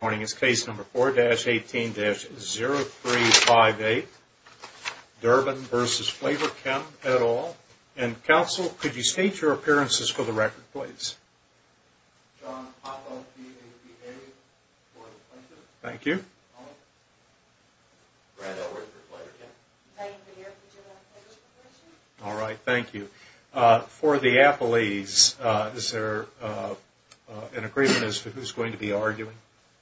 Good morning, it's case number 4-18-0358, Durbin v. Flavorchem et al. And counsel, could you state your appearances for the record, please? John Hoffman, D.A. for the plaintiff. Thank you. Brad Edward for Flavorchem. Diane Verrier, D.A. for the plaintiff. All right, thank you. For the appellees, is there an agreement as to who's going to be arguing?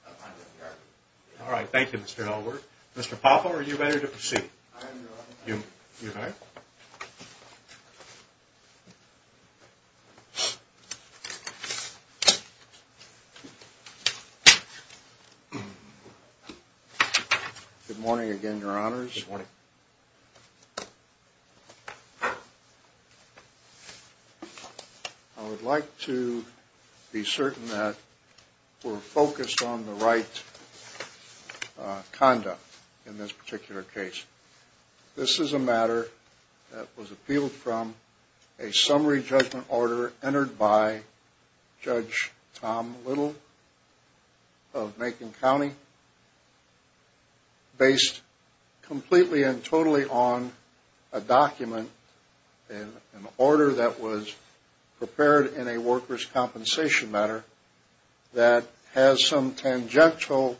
I'm going to be arguing. All right, thank you, Mr. Ellworth. Mr. Popov, are you ready to proceed? I am ready. Good morning again, Your Honors. Good morning. I would like to be certain that we're focused on the right conduct in this particular case. This is a matter that was appealed from a summary judgment order entered by Judge Tom Little of Macon County based completely and totally on a document, an order that was prepared in a workers' compensation matter that has some tangential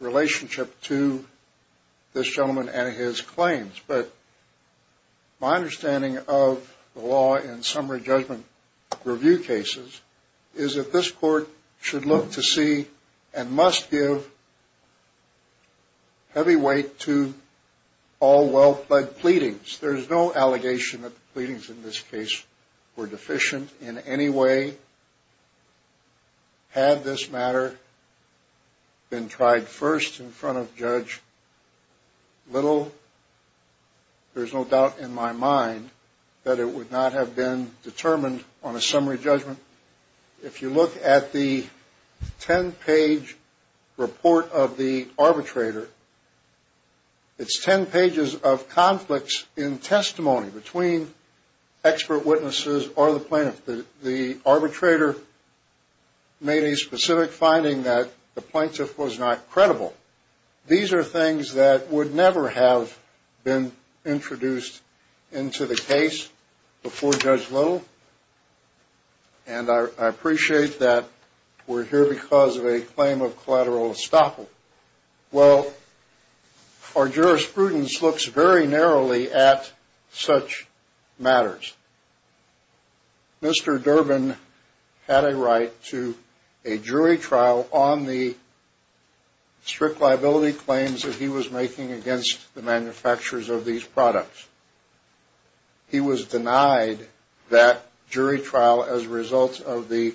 relationship to this gentleman and his claims. But my understanding of the law in summary judgment review cases is that this court should look to see and must give heavy weight to all well-pledged pleadings. There is no allegation that the pleadings in this case were deficient in any way. Had this matter been tried first in front of Judge Little, there's no doubt in my mind that it would not have been determined on a summary judgment. If you look at the 10-page report of the arbitrator, it's 10 pages of conflicts in testimony between expert witnesses or the plaintiff. The arbitrator made a specific finding that the plaintiff was not credible. These are things that would never have been introduced into the case before Judge Little, and I appreciate that we're here because of a claim of collateral estoppel. Well, our jurisprudence looks very narrowly at such matters. Mr. Durbin had a right to a jury trial on the strict liability claims that he was making against the manufacturers of these products. He was denied that jury trial as a result of the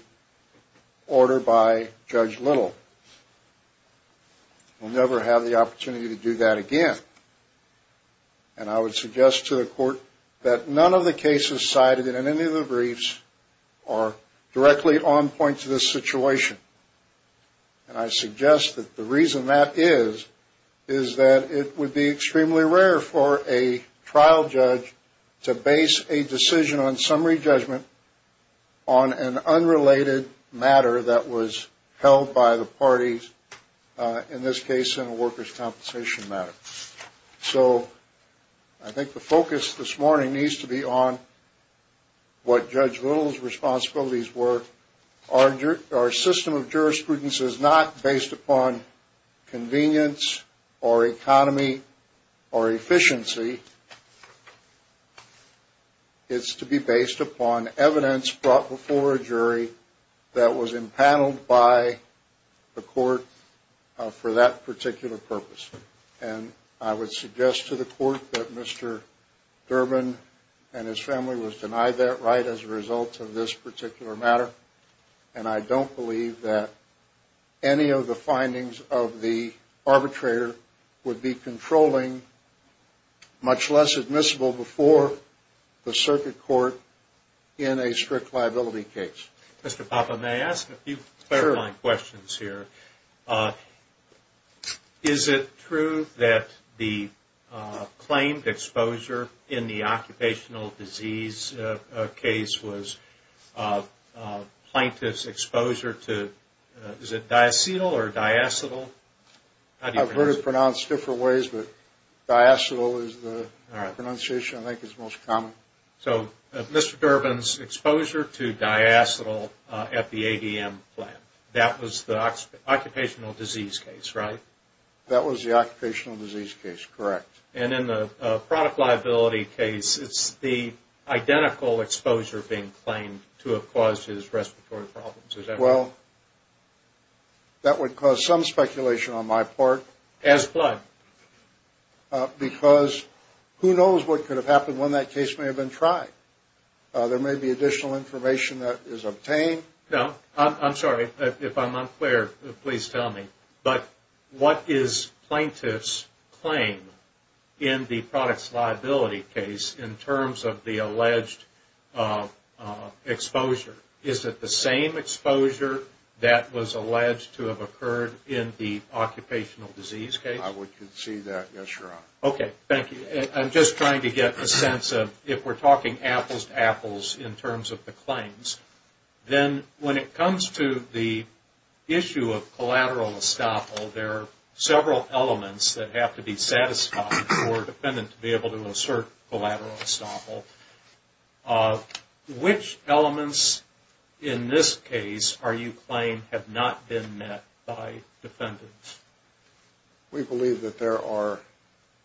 order by Judge Little. We'll never have the opportunity to do that again, and I would suggest to the court that none of the cases cited in any of the briefs are directly on point to this situation, and I suggest that the reason that is is that it would be extremely rare for a trial judge to base a decision on summary judgment on an unrelated matter that was held by the parties, in this case in a workers' compensation matter. So I think the focus this morning needs to be on what Judge Little's responsibilities were. Our system of jurisprudence is not based upon convenience or economy or efficiency. It's to be based upon evidence brought before a jury that was impaneled by the court for that particular purpose, and I would suggest to the court that Mr. Durbin and his family was denied that right as a result of this particular matter, and I don't believe that any of the findings of the arbitrator would be controlling much less admissible before the circuit court in a strict liability case. Mr. Papa, may I ask a few clarifying questions here? Sure. Is it true that the claimed exposure in the occupational disease case was plaintiff's exposure to, is it diacetyl or diacetyl? I've heard it pronounced different ways, but diacetyl is the pronunciation I think is most common. So Mr. Durbin's exposure to diacetyl at the ADM plant, that was the occupational disease case, right? That was the occupational disease case, correct. And in the product liability case, it's the identical exposure being claimed to have caused his respiratory problems. Well, that would cause some speculation on my part. As what? Because who knows what could have happened when that case may have been tried. There may be additional information that is obtained. I'm sorry. If I'm unclear, please tell me. But what is plaintiff's claim in the product's liability case in terms of the alleged exposure? Is it the same exposure that was alleged to have occurred in the occupational disease case? I would concede that, yes, Your Honor. Okay. Thank you. I'm just trying to get a sense of if we're talking apples to apples in terms of the claims, then when it comes to the issue of collateral estoppel, there are several elements that have to be satisfied for a defendant to be able to assert collateral estoppel. Which elements in this case are you claiming have not been met by defendants? We believe that there are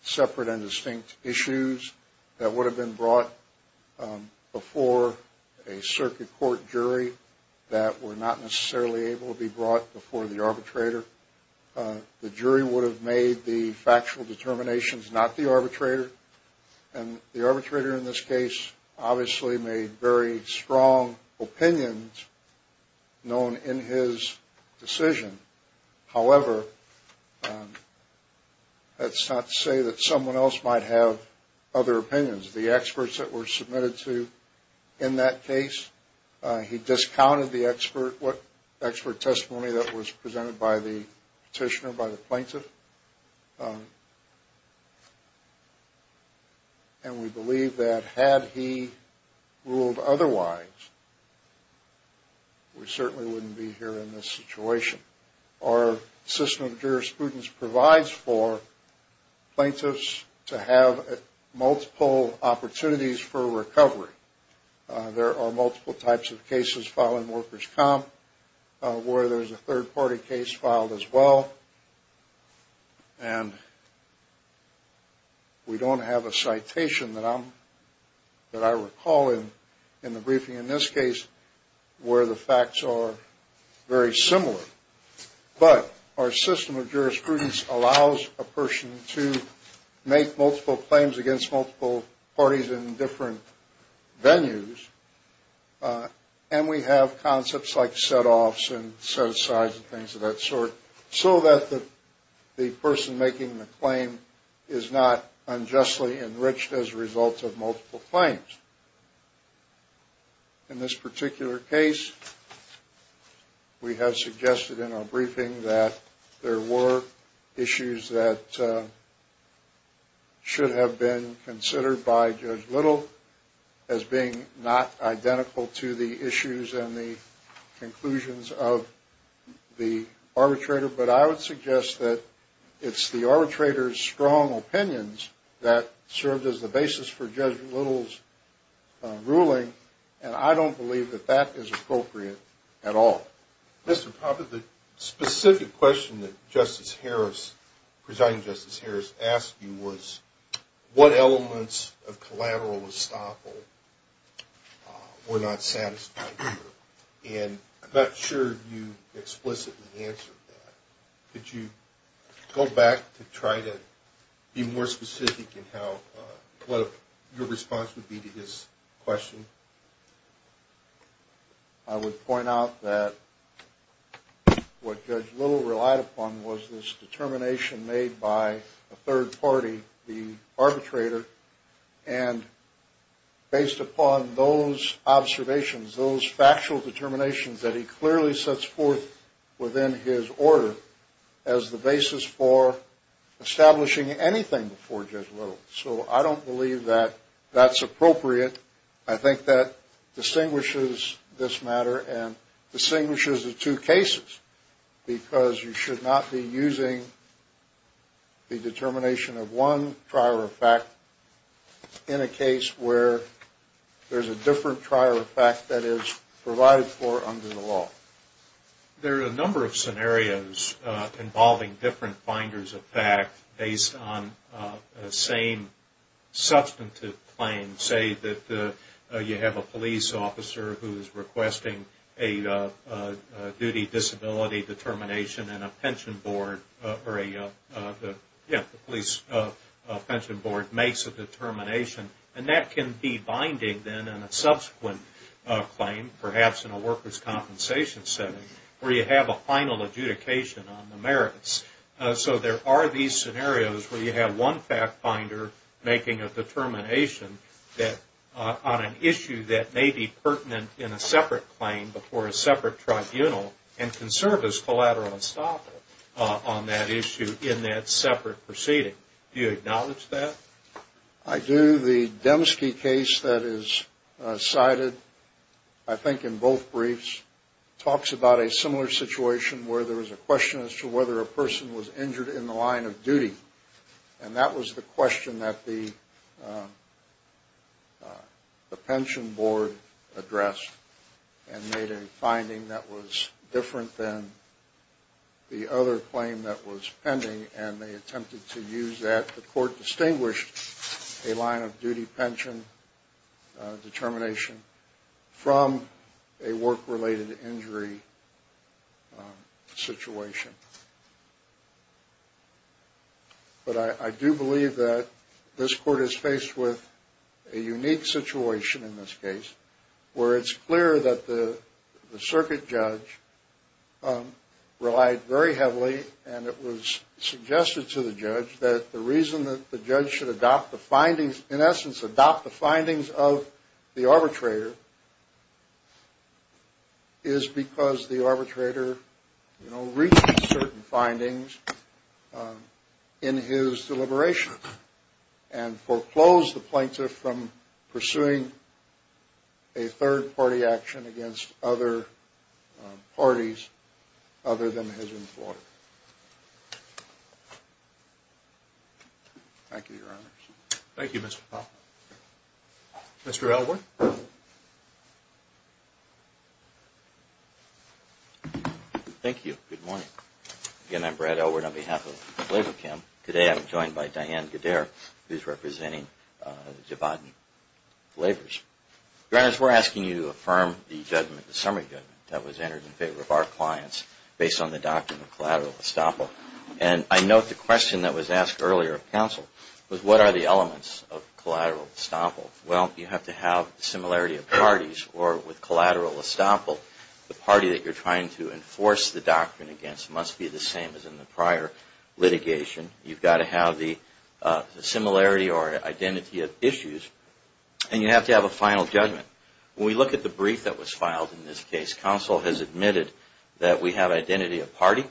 separate and distinct issues that would have been brought before a circuit court jury that were not necessarily able to be brought before the arbitrator. The jury would have made the factual determinations, not the arbitrator. And the arbitrator in this case obviously made very strong opinions known in his decision. However, that's not to say that someone else might have other opinions. The experts that were submitted to in that case, he discounted the expert testimony that was presented by the petitioner, by the plaintiff. And we believe that had he ruled otherwise, we certainly wouldn't be here in this situation. Our system of jurisprudence provides for plaintiffs to have multiple opportunities for recovery. There are multiple types of cases filed in workers' comp where there's a third-party case filed as well. And we don't have a citation that I recall in the briefing in this case where the facts are very similar. But our system of jurisprudence allows a person to make multiple claims against multiple parties in different venues. And we have concepts like set-offs and set-asides and things of that sort, so that the person making the claim is not unjustly enriched as a result of multiple claims. In this particular case, we have suggested in our briefing that there were issues that should have been considered by Judge Little as being not identical to the issues and the conclusions of the arbitrator. But I would suggest that it's the arbitrator's strong opinions that served as the basis for Judge Little's ruling, and I don't believe that that is appropriate at all. Mr. Poppe, the specific question that Justice Harris, Presiding Justice Harris asked you was what elements of collateral estoppel were not satisfied here. And I'm not sure you explicitly answered that. Could you go back to try to be more specific in what your response would be to his question? I would point out that what Judge Little relied upon was this determination made by a third party, the arbitrator. And based upon those observations, those factual determinations that he clearly sets forth within his order as the basis for establishing anything before Judge Little. So I don't believe that that's appropriate. I think that distinguishes this matter and distinguishes the two cases because you should not be using the determination of one trial of fact in a case where there's a different trial of fact that is provided for under the law. There are a number of scenarios involving different finders of fact based on the same substantive claim. You can say that you have a police officer who is requesting a duty disability determination and a pension board or a police pension board makes a determination. And that can be binding then on a subsequent claim, perhaps in a workers' compensation setting, where you have a final adjudication on the merits. So there are these scenarios where you have one fact finder making a determination on an issue that may be pertinent in a separate claim before a separate tribunal and can serve as collateral estoppel on that issue in that separate proceeding. Do you acknowledge that? I do. The Demske case that is cited, I think in both briefs, talks about a similar situation where there was a question as to whether a person was injured in the line of duty. And that was the question that the pension board addressed and made a finding that was different than the other claim that was pending. And they attempted to use that. The court distinguished a line of duty pension determination from a work-related injury situation. But I do believe that this court is faced with a unique situation in this case, where it's clear that the circuit judge relied very heavily and it was suggested to the judge that the reason that the judge should adopt the findings, in essence adopt the findings of the arbitrator, is because the arbitrator reached certain findings in his deliberation and foreclosed the plaintiff from pursuing a third-party action against other parties other than his employer. Thank you, Your Honors. Thank you, Mr. Poppe. Mr. Elwood. Thank you. Good morning. Again, I'm Brad Elwood on behalf of the labor camp. Today, I'm joined by Diane Goddard, who's representing Javadin Labors. Your Honors, we're asking you to affirm the summary judgment that was entered in favor of our clients based on the doctrine of collateral estoppel. And I note the question that was asked earlier of counsel was, what are the elements of collateral estoppel? Well, you have to have the similarity of parties, or with collateral estoppel, the party that you're trying to enforce the doctrine against must be the same as in the prior litigation. You've got to have the similarity or identity of issues. And you have to have a final judgment. When we look at the brief that was filed in this case, counsel has admitted that we have identity of party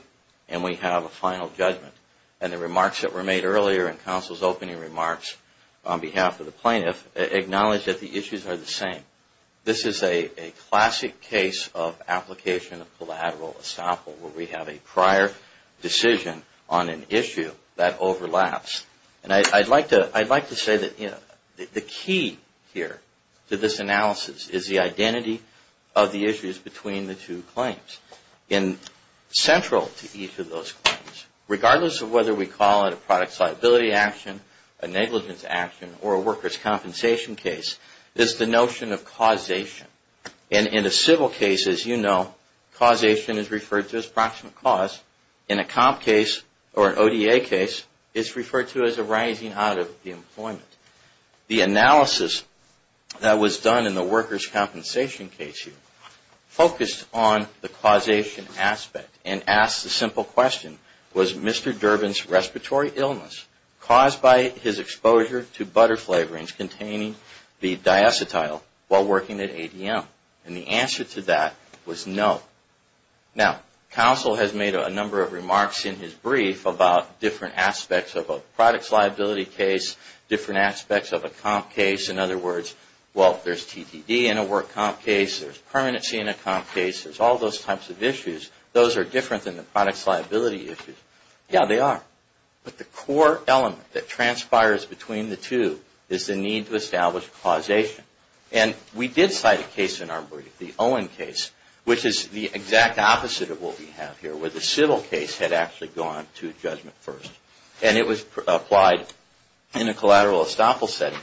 and we have a final judgment. And the remarks that were made earlier in counsel's opening remarks on behalf of the plaintiff acknowledge that the issues are the same. This is a classic case of application of collateral estoppel where we have a prior decision on an issue that overlaps. And I'd like to say that the key here to this analysis is the identity of the issues between the two claims. And central to each of those claims, regardless of whether we call it a product liability action, a negligence action, or a worker's compensation case, is the notion of causation. And in a civil case, as you know, causation is referred to as proximate cause. In a comp case or an ODA case, it's referred to as a rising out of the employment. The analysis that was done in the worker's compensation case focused on the causation aspect and asked the simple question, was Mr. Durbin's respiratory illness caused by his exposure to butter flavorings containing the diacetyl while working at ADM? And the answer to that was no. Now, counsel has made a number of remarks in his brief about different aspects of a product's liability case, different aspects of a comp case. In other words, well, there's TDD in a work comp case, there's permanency in a comp case, there's all those types of issues. Those are different than the product's liability issues. Yeah, they are. But the core element that transpires between the two is the need to establish causation. And we did cite a case in our brief, the Owen case, which is the exact opposite of what we have here, where the civil case had actually gone to judgment first. And it was applied in a collateral estoppel setting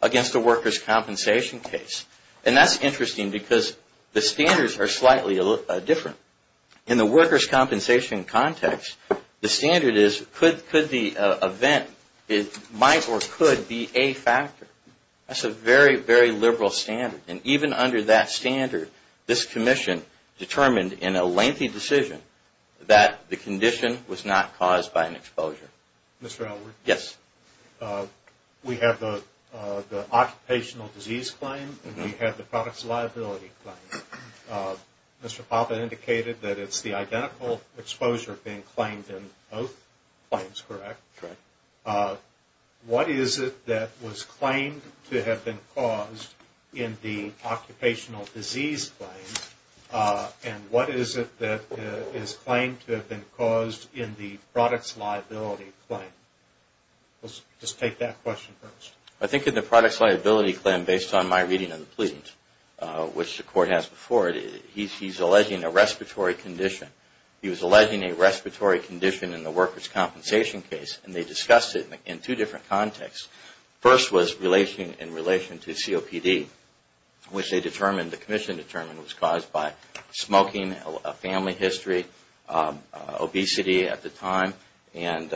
against a worker's compensation case. And that's interesting because the standards are slightly different. In the worker's compensation context, the standard is could the event might or could be a factor. That's a very, very liberal standard. And even under that standard, this commission determined in a lengthy decision that the condition was not caused by an exposure. Mr. Elwood? Yes. We have the occupational disease claim and we have the product's liability claim. Mr. Papa indicated that it's the identical exposure being claimed in both claims, correct? Correct. What is it that was claimed to have been caused in the occupational disease claim? And what is it that is claimed to have been caused in the product's liability claim? Just take that question first. I think in the product's liability claim, based on my reading of the pleadings, which the court has before it, he's alleging a respiratory condition. He was alleging a respiratory condition in the worker's compensation case. And they discussed it in two different contexts. First was in relation to COPD, which they determined, the commission determined, was caused by smoking, a family history, obesity at the time, and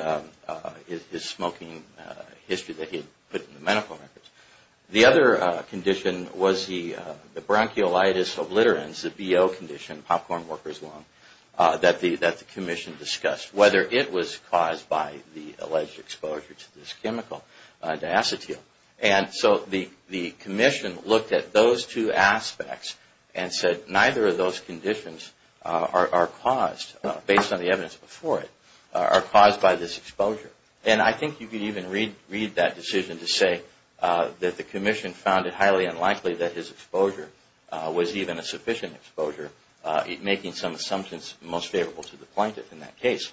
his smoking history that he had put in the medical records. The other condition was the bronchiolitis obliterans, the BO condition, popcorn worker's lung, that the commission discussed. Whether it was caused by the alleged exposure to this chemical, diacetyl. And so the commission looked at those two aspects and said, neither of those conditions are caused, based on the evidence before it, are caused by this exposure. And I think you could even read that decision to say that the commission found it highly unlikely that his exposure was even a sufficient exposure, making some assumptions most favorable to the plaintiff in that case.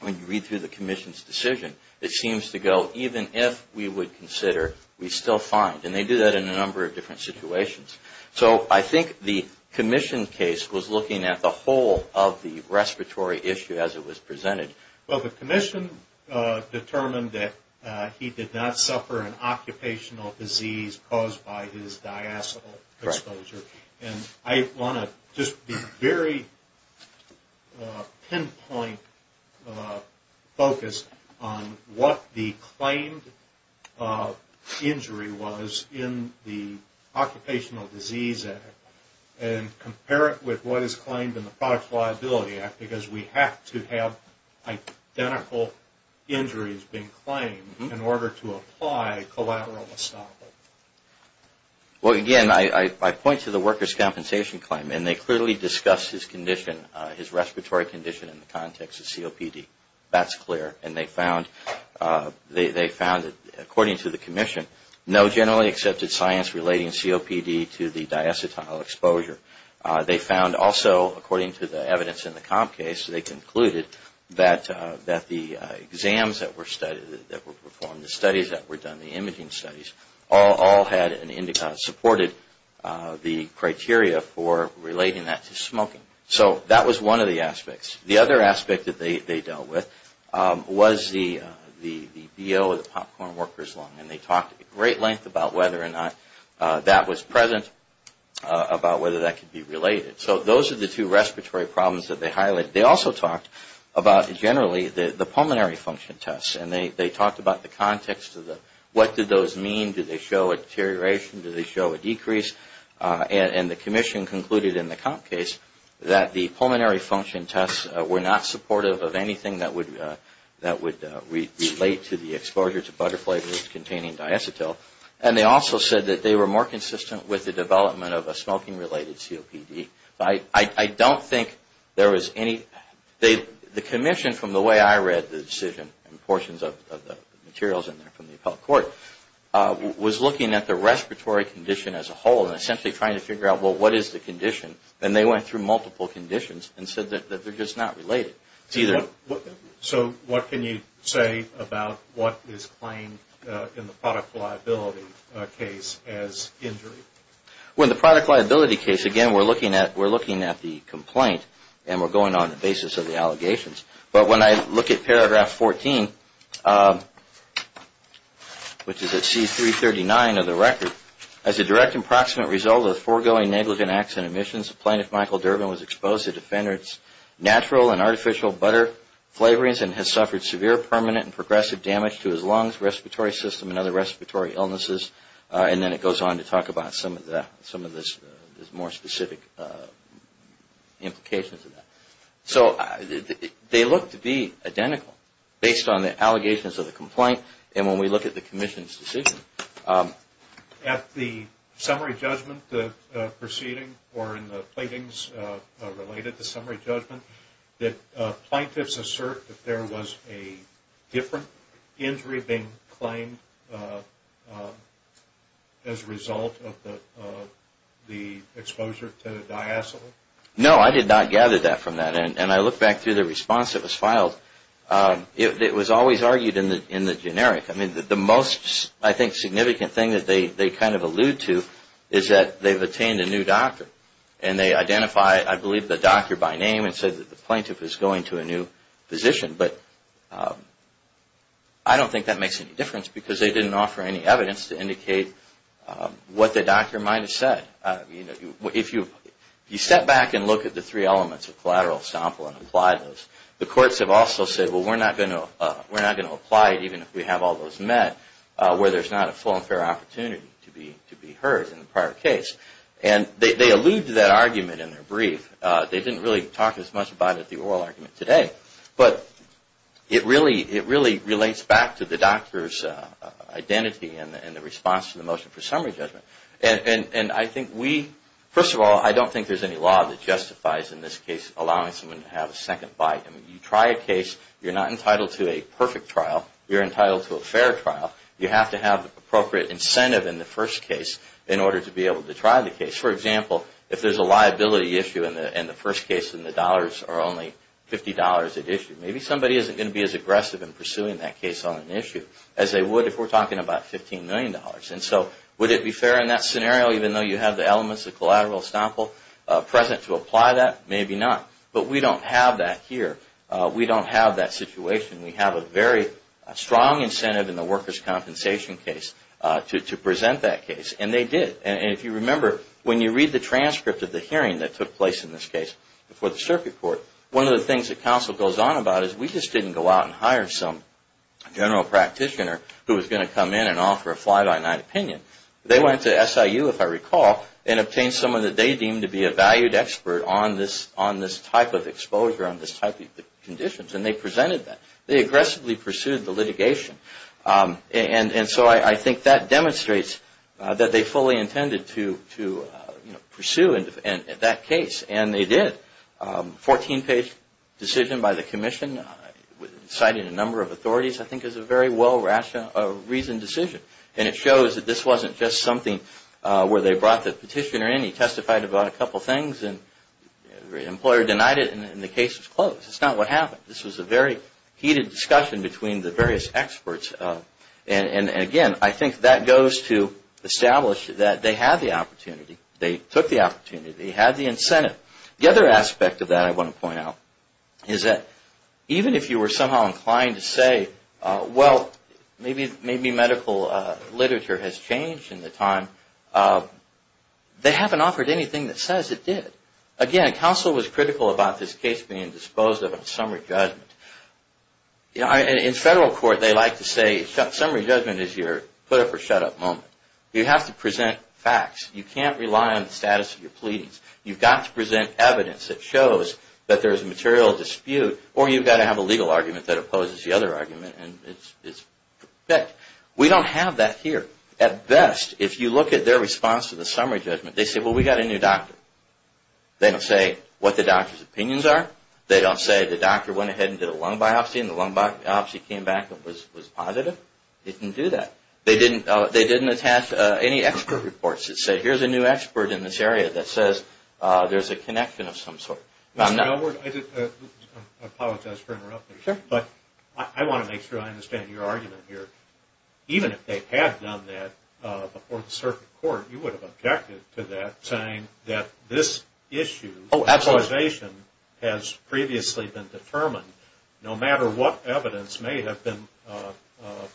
When you read through the commission's decision, it seems to go, even if we would consider, we still find. And they do that in a number of different situations. So I think the commission case was looking at the whole of the respiratory issue as it was presented. Well, the commission determined that he did not suffer an occupational disease caused by his diacetyl exposure. And I want to just be very pinpoint focused on what the claimed injury was in the Occupational Disease Act and compare it with what is claimed in the Product Reliability Act, because we have to have identical injuries being claimed in order to apply collateral estoppel. Well, again, I point to the worker's compensation claim. And they clearly discussed his condition, his respiratory condition in the context of COPD. That's clear. And they found, according to the commission, no generally accepted science relating COPD to the diacetyl exposure. They found also, according to the evidence in the comp case, they concluded that the exams that were studied, that were performed, the studies that were done, the imaging studies, all had and supported the criteria for relating that to smoking. So that was one of the aspects. The other aspect that they dealt with was the BO, the Popcorn Worker's Lung. And they talked at great length about whether or not that was present, about whether that could be related. So those are the two respiratory problems that they highlighted. They also talked about, generally, the pulmonary function tests. And they talked about the context of what did those mean. Did they show a deterioration? Did they show a decrease? And the commission concluded in the comp case that the pulmonary function tests were not supportive of anything that would relate to the exposure to butter flavors containing diacetyl. And they also said that they were more consistent with the development of a smoking-related COPD. I don't think there was any. The commission, from the way I read the decision, and portions of the materials in there from the appellate court, was looking at the respiratory condition as a whole and essentially trying to figure out, well, what is the condition? And they went through multiple conditions and said that they're just not related. So what can you say about what is claimed in the product liability case as injury? Well, in the product liability case, again, we're looking at the complaint and we're going on the basis of the allegations. But when I look at paragraph 14, which is at C-339 of the record, as a direct and proximate result of the foregoing negligent acts and omissions, the plaintiff, Michael Durbin, was exposed to defender's natural and artificial butter flavorings and has suffered severe permanent and progressive damage to his lungs, respiratory system, and other respiratory illnesses. And then it goes on to talk about some of the more specific implications of that. So they look to be identical based on the allegations of the complaint and when we look at the commission's decision. At the summary judgment proceeding or in the platings related to summary judgment, did plaintiffs assert that there was a different injury being claimed as a result of the exposure to the diacetyl? No, I did not gather that from that. And I look back through the response that was filed. It was always argued in the generic. I mean, the most, I think, significant thing that they kind of allude to is that they've obtained a new doctor and they identify, I believe, the doctor by name and said that the plaintiff is going to a new position. But I don't think that makes any difference because they didn't offer any evidence to indicate what the doctor might have said. If you step back and look at the three elements of collateral sample and apply those, the courts have also said, well, we're not going to apply it even if we have all those met where there's not a full and fair opportunity to be heard in the prior case. And they allude to that argument in their brief. They didn't really talk as much about it at the oral argument today. But it really relates back to the doctor's identity and the response to the motion for summary judgment. And I think we, first of all, I don't think there's any law that justifies, in this case, allowing someone to have a second bite. I mean, you try a case. You're not entitled to a perfect trial. You're entitled to a fair trial. You have to have appropriate incentive in the first case in order to be able to try the case. For example, if there's a liability issue in the first case and the dollars are only $50 at issue, maybe somebody isn't going to be as aggressive in pursuing that case on an issue as they would if we're talking about $15 million. And so would it be fair in that scenario, even though you have the elements of collateral estoppel present to apply that? Maybe not. But we don't have that here. We don't have that situation. We have a very strong incentive in the workers' compensation case to present that case. And they did. And if you remember, when you read the transcript of the hearing that took place in this case before the circuit court, one of the things that counsel goes on about is we just didn't go out and hire some general practitioner who was going to come in and offer a fly-by-night opinion. They went to SIU, if I recall, and obtained someone that they deemed to be a valued expert on this type of exposure, on this type of conditions, and they presented that. They aggressively pursued the litigation. And so I think that demonstrates that they fully intended to pursue that case, and they did. Fourteen-page decision by the commission, citing a number of authorities, I think is a very well-reasoned decision. And it shows that this wasn't just something where they brought the petitioner in. He testified about a couple things, and the employer denied it, and the case was closed. That's not what happened. This was a very heated discussion between the various experts. And again, I think that goes to establish that they had the opportunity. They took the opportunity. They had the incentive. The other aspect of that I want to point out is that even if you were somehow inclined to say, well, maybe medical literature has changed in the time, they haven't offered anything that says it did. Again, counsel was critical about this case being disposed of on summary judgment. In federal court, they like to say summary judgment is your put-up-or-shut-up moment. You have to present facts. You can't rely on the status of your pleadings. You've got to present evidence that shows that there's a material dispute, or you've got to have a legal argument that opposes the other argument, and it's perfect. We don't have that here. At best, if you look at their response to the summary judgment, they say, well, we got a new doctor. They don't say what the doctor's opinions are. They don't say the doctor went ahead and did a lung biopsy, and the lung biopsy came back and was positive. They didn't do that. They didn't attach any expert reports that say, here's a new expert in this area that says there's a connection of some sort. I apologize for interrupting, but I want to make sure I understand your argument here. Even if they had done that before the circuit court, you would have objected to that, saying that this issue has previously been determined. No matter what evidence may have been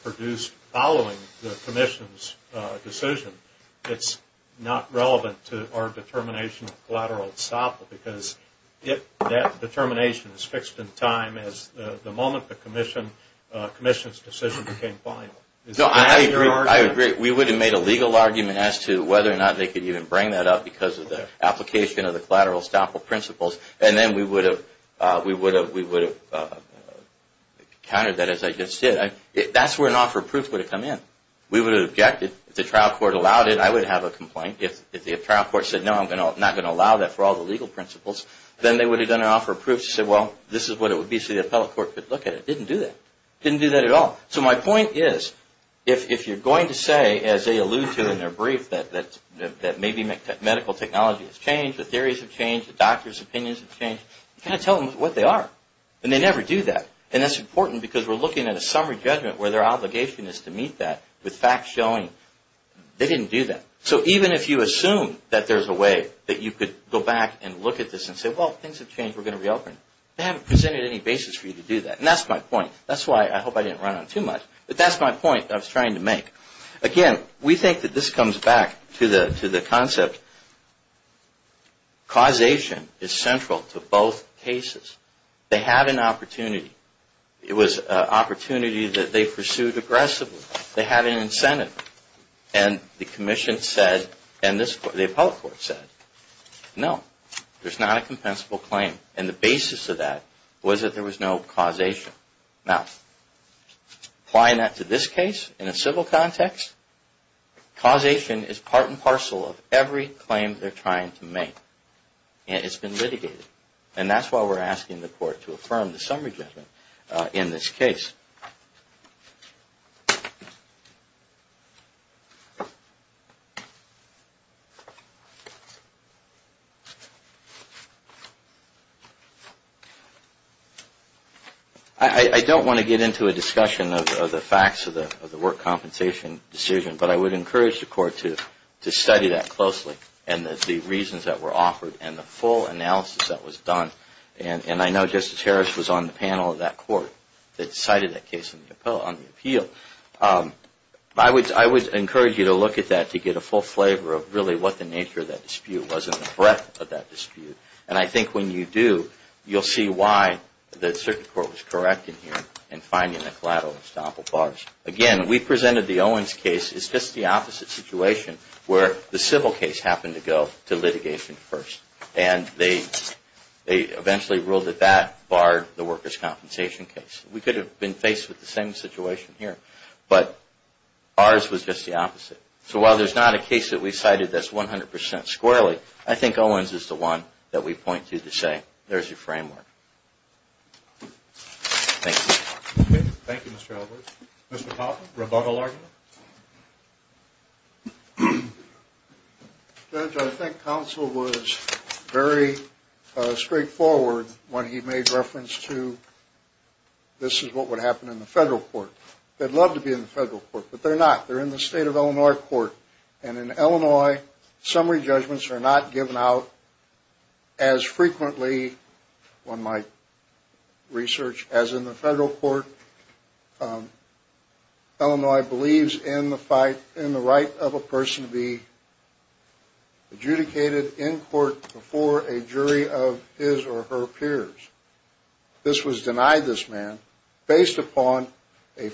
produced following the commission's decision, it's not relevant to our determination of collateral itself, because that determination is fixed in time as the moment the commission's decision became final. I agree. We would have made a legal argument as to whether or not they could even bring that up because of the application of the collateral estoppel principles, and then we would have countered that, as I just said. That's where an offer of proof would have come in. We would have objected. If the trial court allowed it, I would have a complaint. If the trial court said, no, I'm not going to allow that for all the legal principles, then they would have done an offer of proof to say, well, this is what it would be, so the appellate court could look at it. Didn't do that. Didn't do that at all. So my point is, if you're going to say, as they allude to in their brief, that maybe medical technology has changed, the theories have changed, the doctors' opinions have changed, you've got to tell them what they are, and they never do that, and that's important because we're looking at a summary judgment where their obligation is to meet that with facts showing they didn't do that. So even if you assume that there's a way that you could go back and look at this and say, well, things have changed, we're going to reopen, they haven't presented any basis for you to do that, and that's my point. That's why I hope I didn't run on too much, but that's my point I was trying to make. Again, we think that this comes back to the concept, causation is central to both cases. They have an opportunity. It was an opportunity that they pursued aggressively. They had an incentive, and the commission said, and the appellate court said, no, there's not a compensable claim, and the basis of that was that there was no causation. Now, applying that to this case in a civil context, causation is part and parcel of every claim they're trying to make, and it's been litigated, and that's why we're asking the court to affirm the summary judgment in this case. I don't want to get into a discussion of the facts of the work compensation decision, but I would encourage the court to study that closely and the reasons that were offered and the full analysis that was done, and I know Justice Harris was on the panel of that court that cited that case on the appeal. I would encourage you to look at that to get a full flavor of really what the nature of that dispute was and the breadth of that dispute, and I think when you do, you'll see why the circuit court was correct in here in finding the collateral and estoppel bars. Again, we presented the Owens case. It's just the opposite situation where the civil case happened to go to litigation first, and they eventually ruled that that barred the workers' compensation case. We could have been faced with the same situation here, but ours was just the opposite. So while there's not a case that we cited that's 100 percent squarely, I think Owens is the one that we point to to say, there's your framework. Thank you. Thank you, Mr. Edwards. Mr. Popham, rebuttal argument? Judge, I think counsel was very straightforward when he made reference to this is what would happen in the federal court. They'd love to be in the federal court, but they're not. They're in the state of Illinois court, and in Illinois, summary judgments are not given out as frequently, on my research, as in the federal court. Illinois believes in the right of a person to be adjudicated in court before a jury of his or her peers. This was denied this man based upon I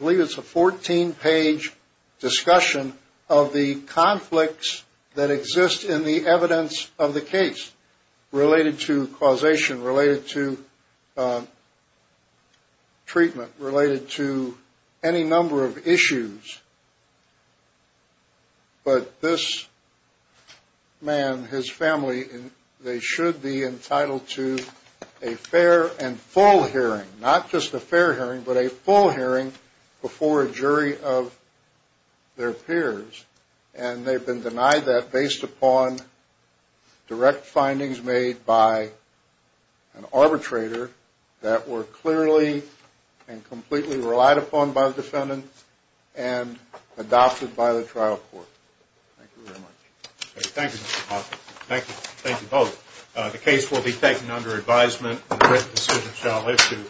believe it's a 14-page discussion of the conflicts that exist in the evidence of the case related to causation, related to treatment, related to any number of issues. But this man, his family, they should be entitled to a fair and full hearing, not just a fair hearing, but a full hearing before a jury of their peers. And they've been denied that based upon direct findings made by an arbitrator that were clearly and completely relied upon by the defendant and adopted by the trial court. Thank you very much. Thank you, Mr. Popham. Thank you both. The case will be taken under advisement. The written decision shall issue.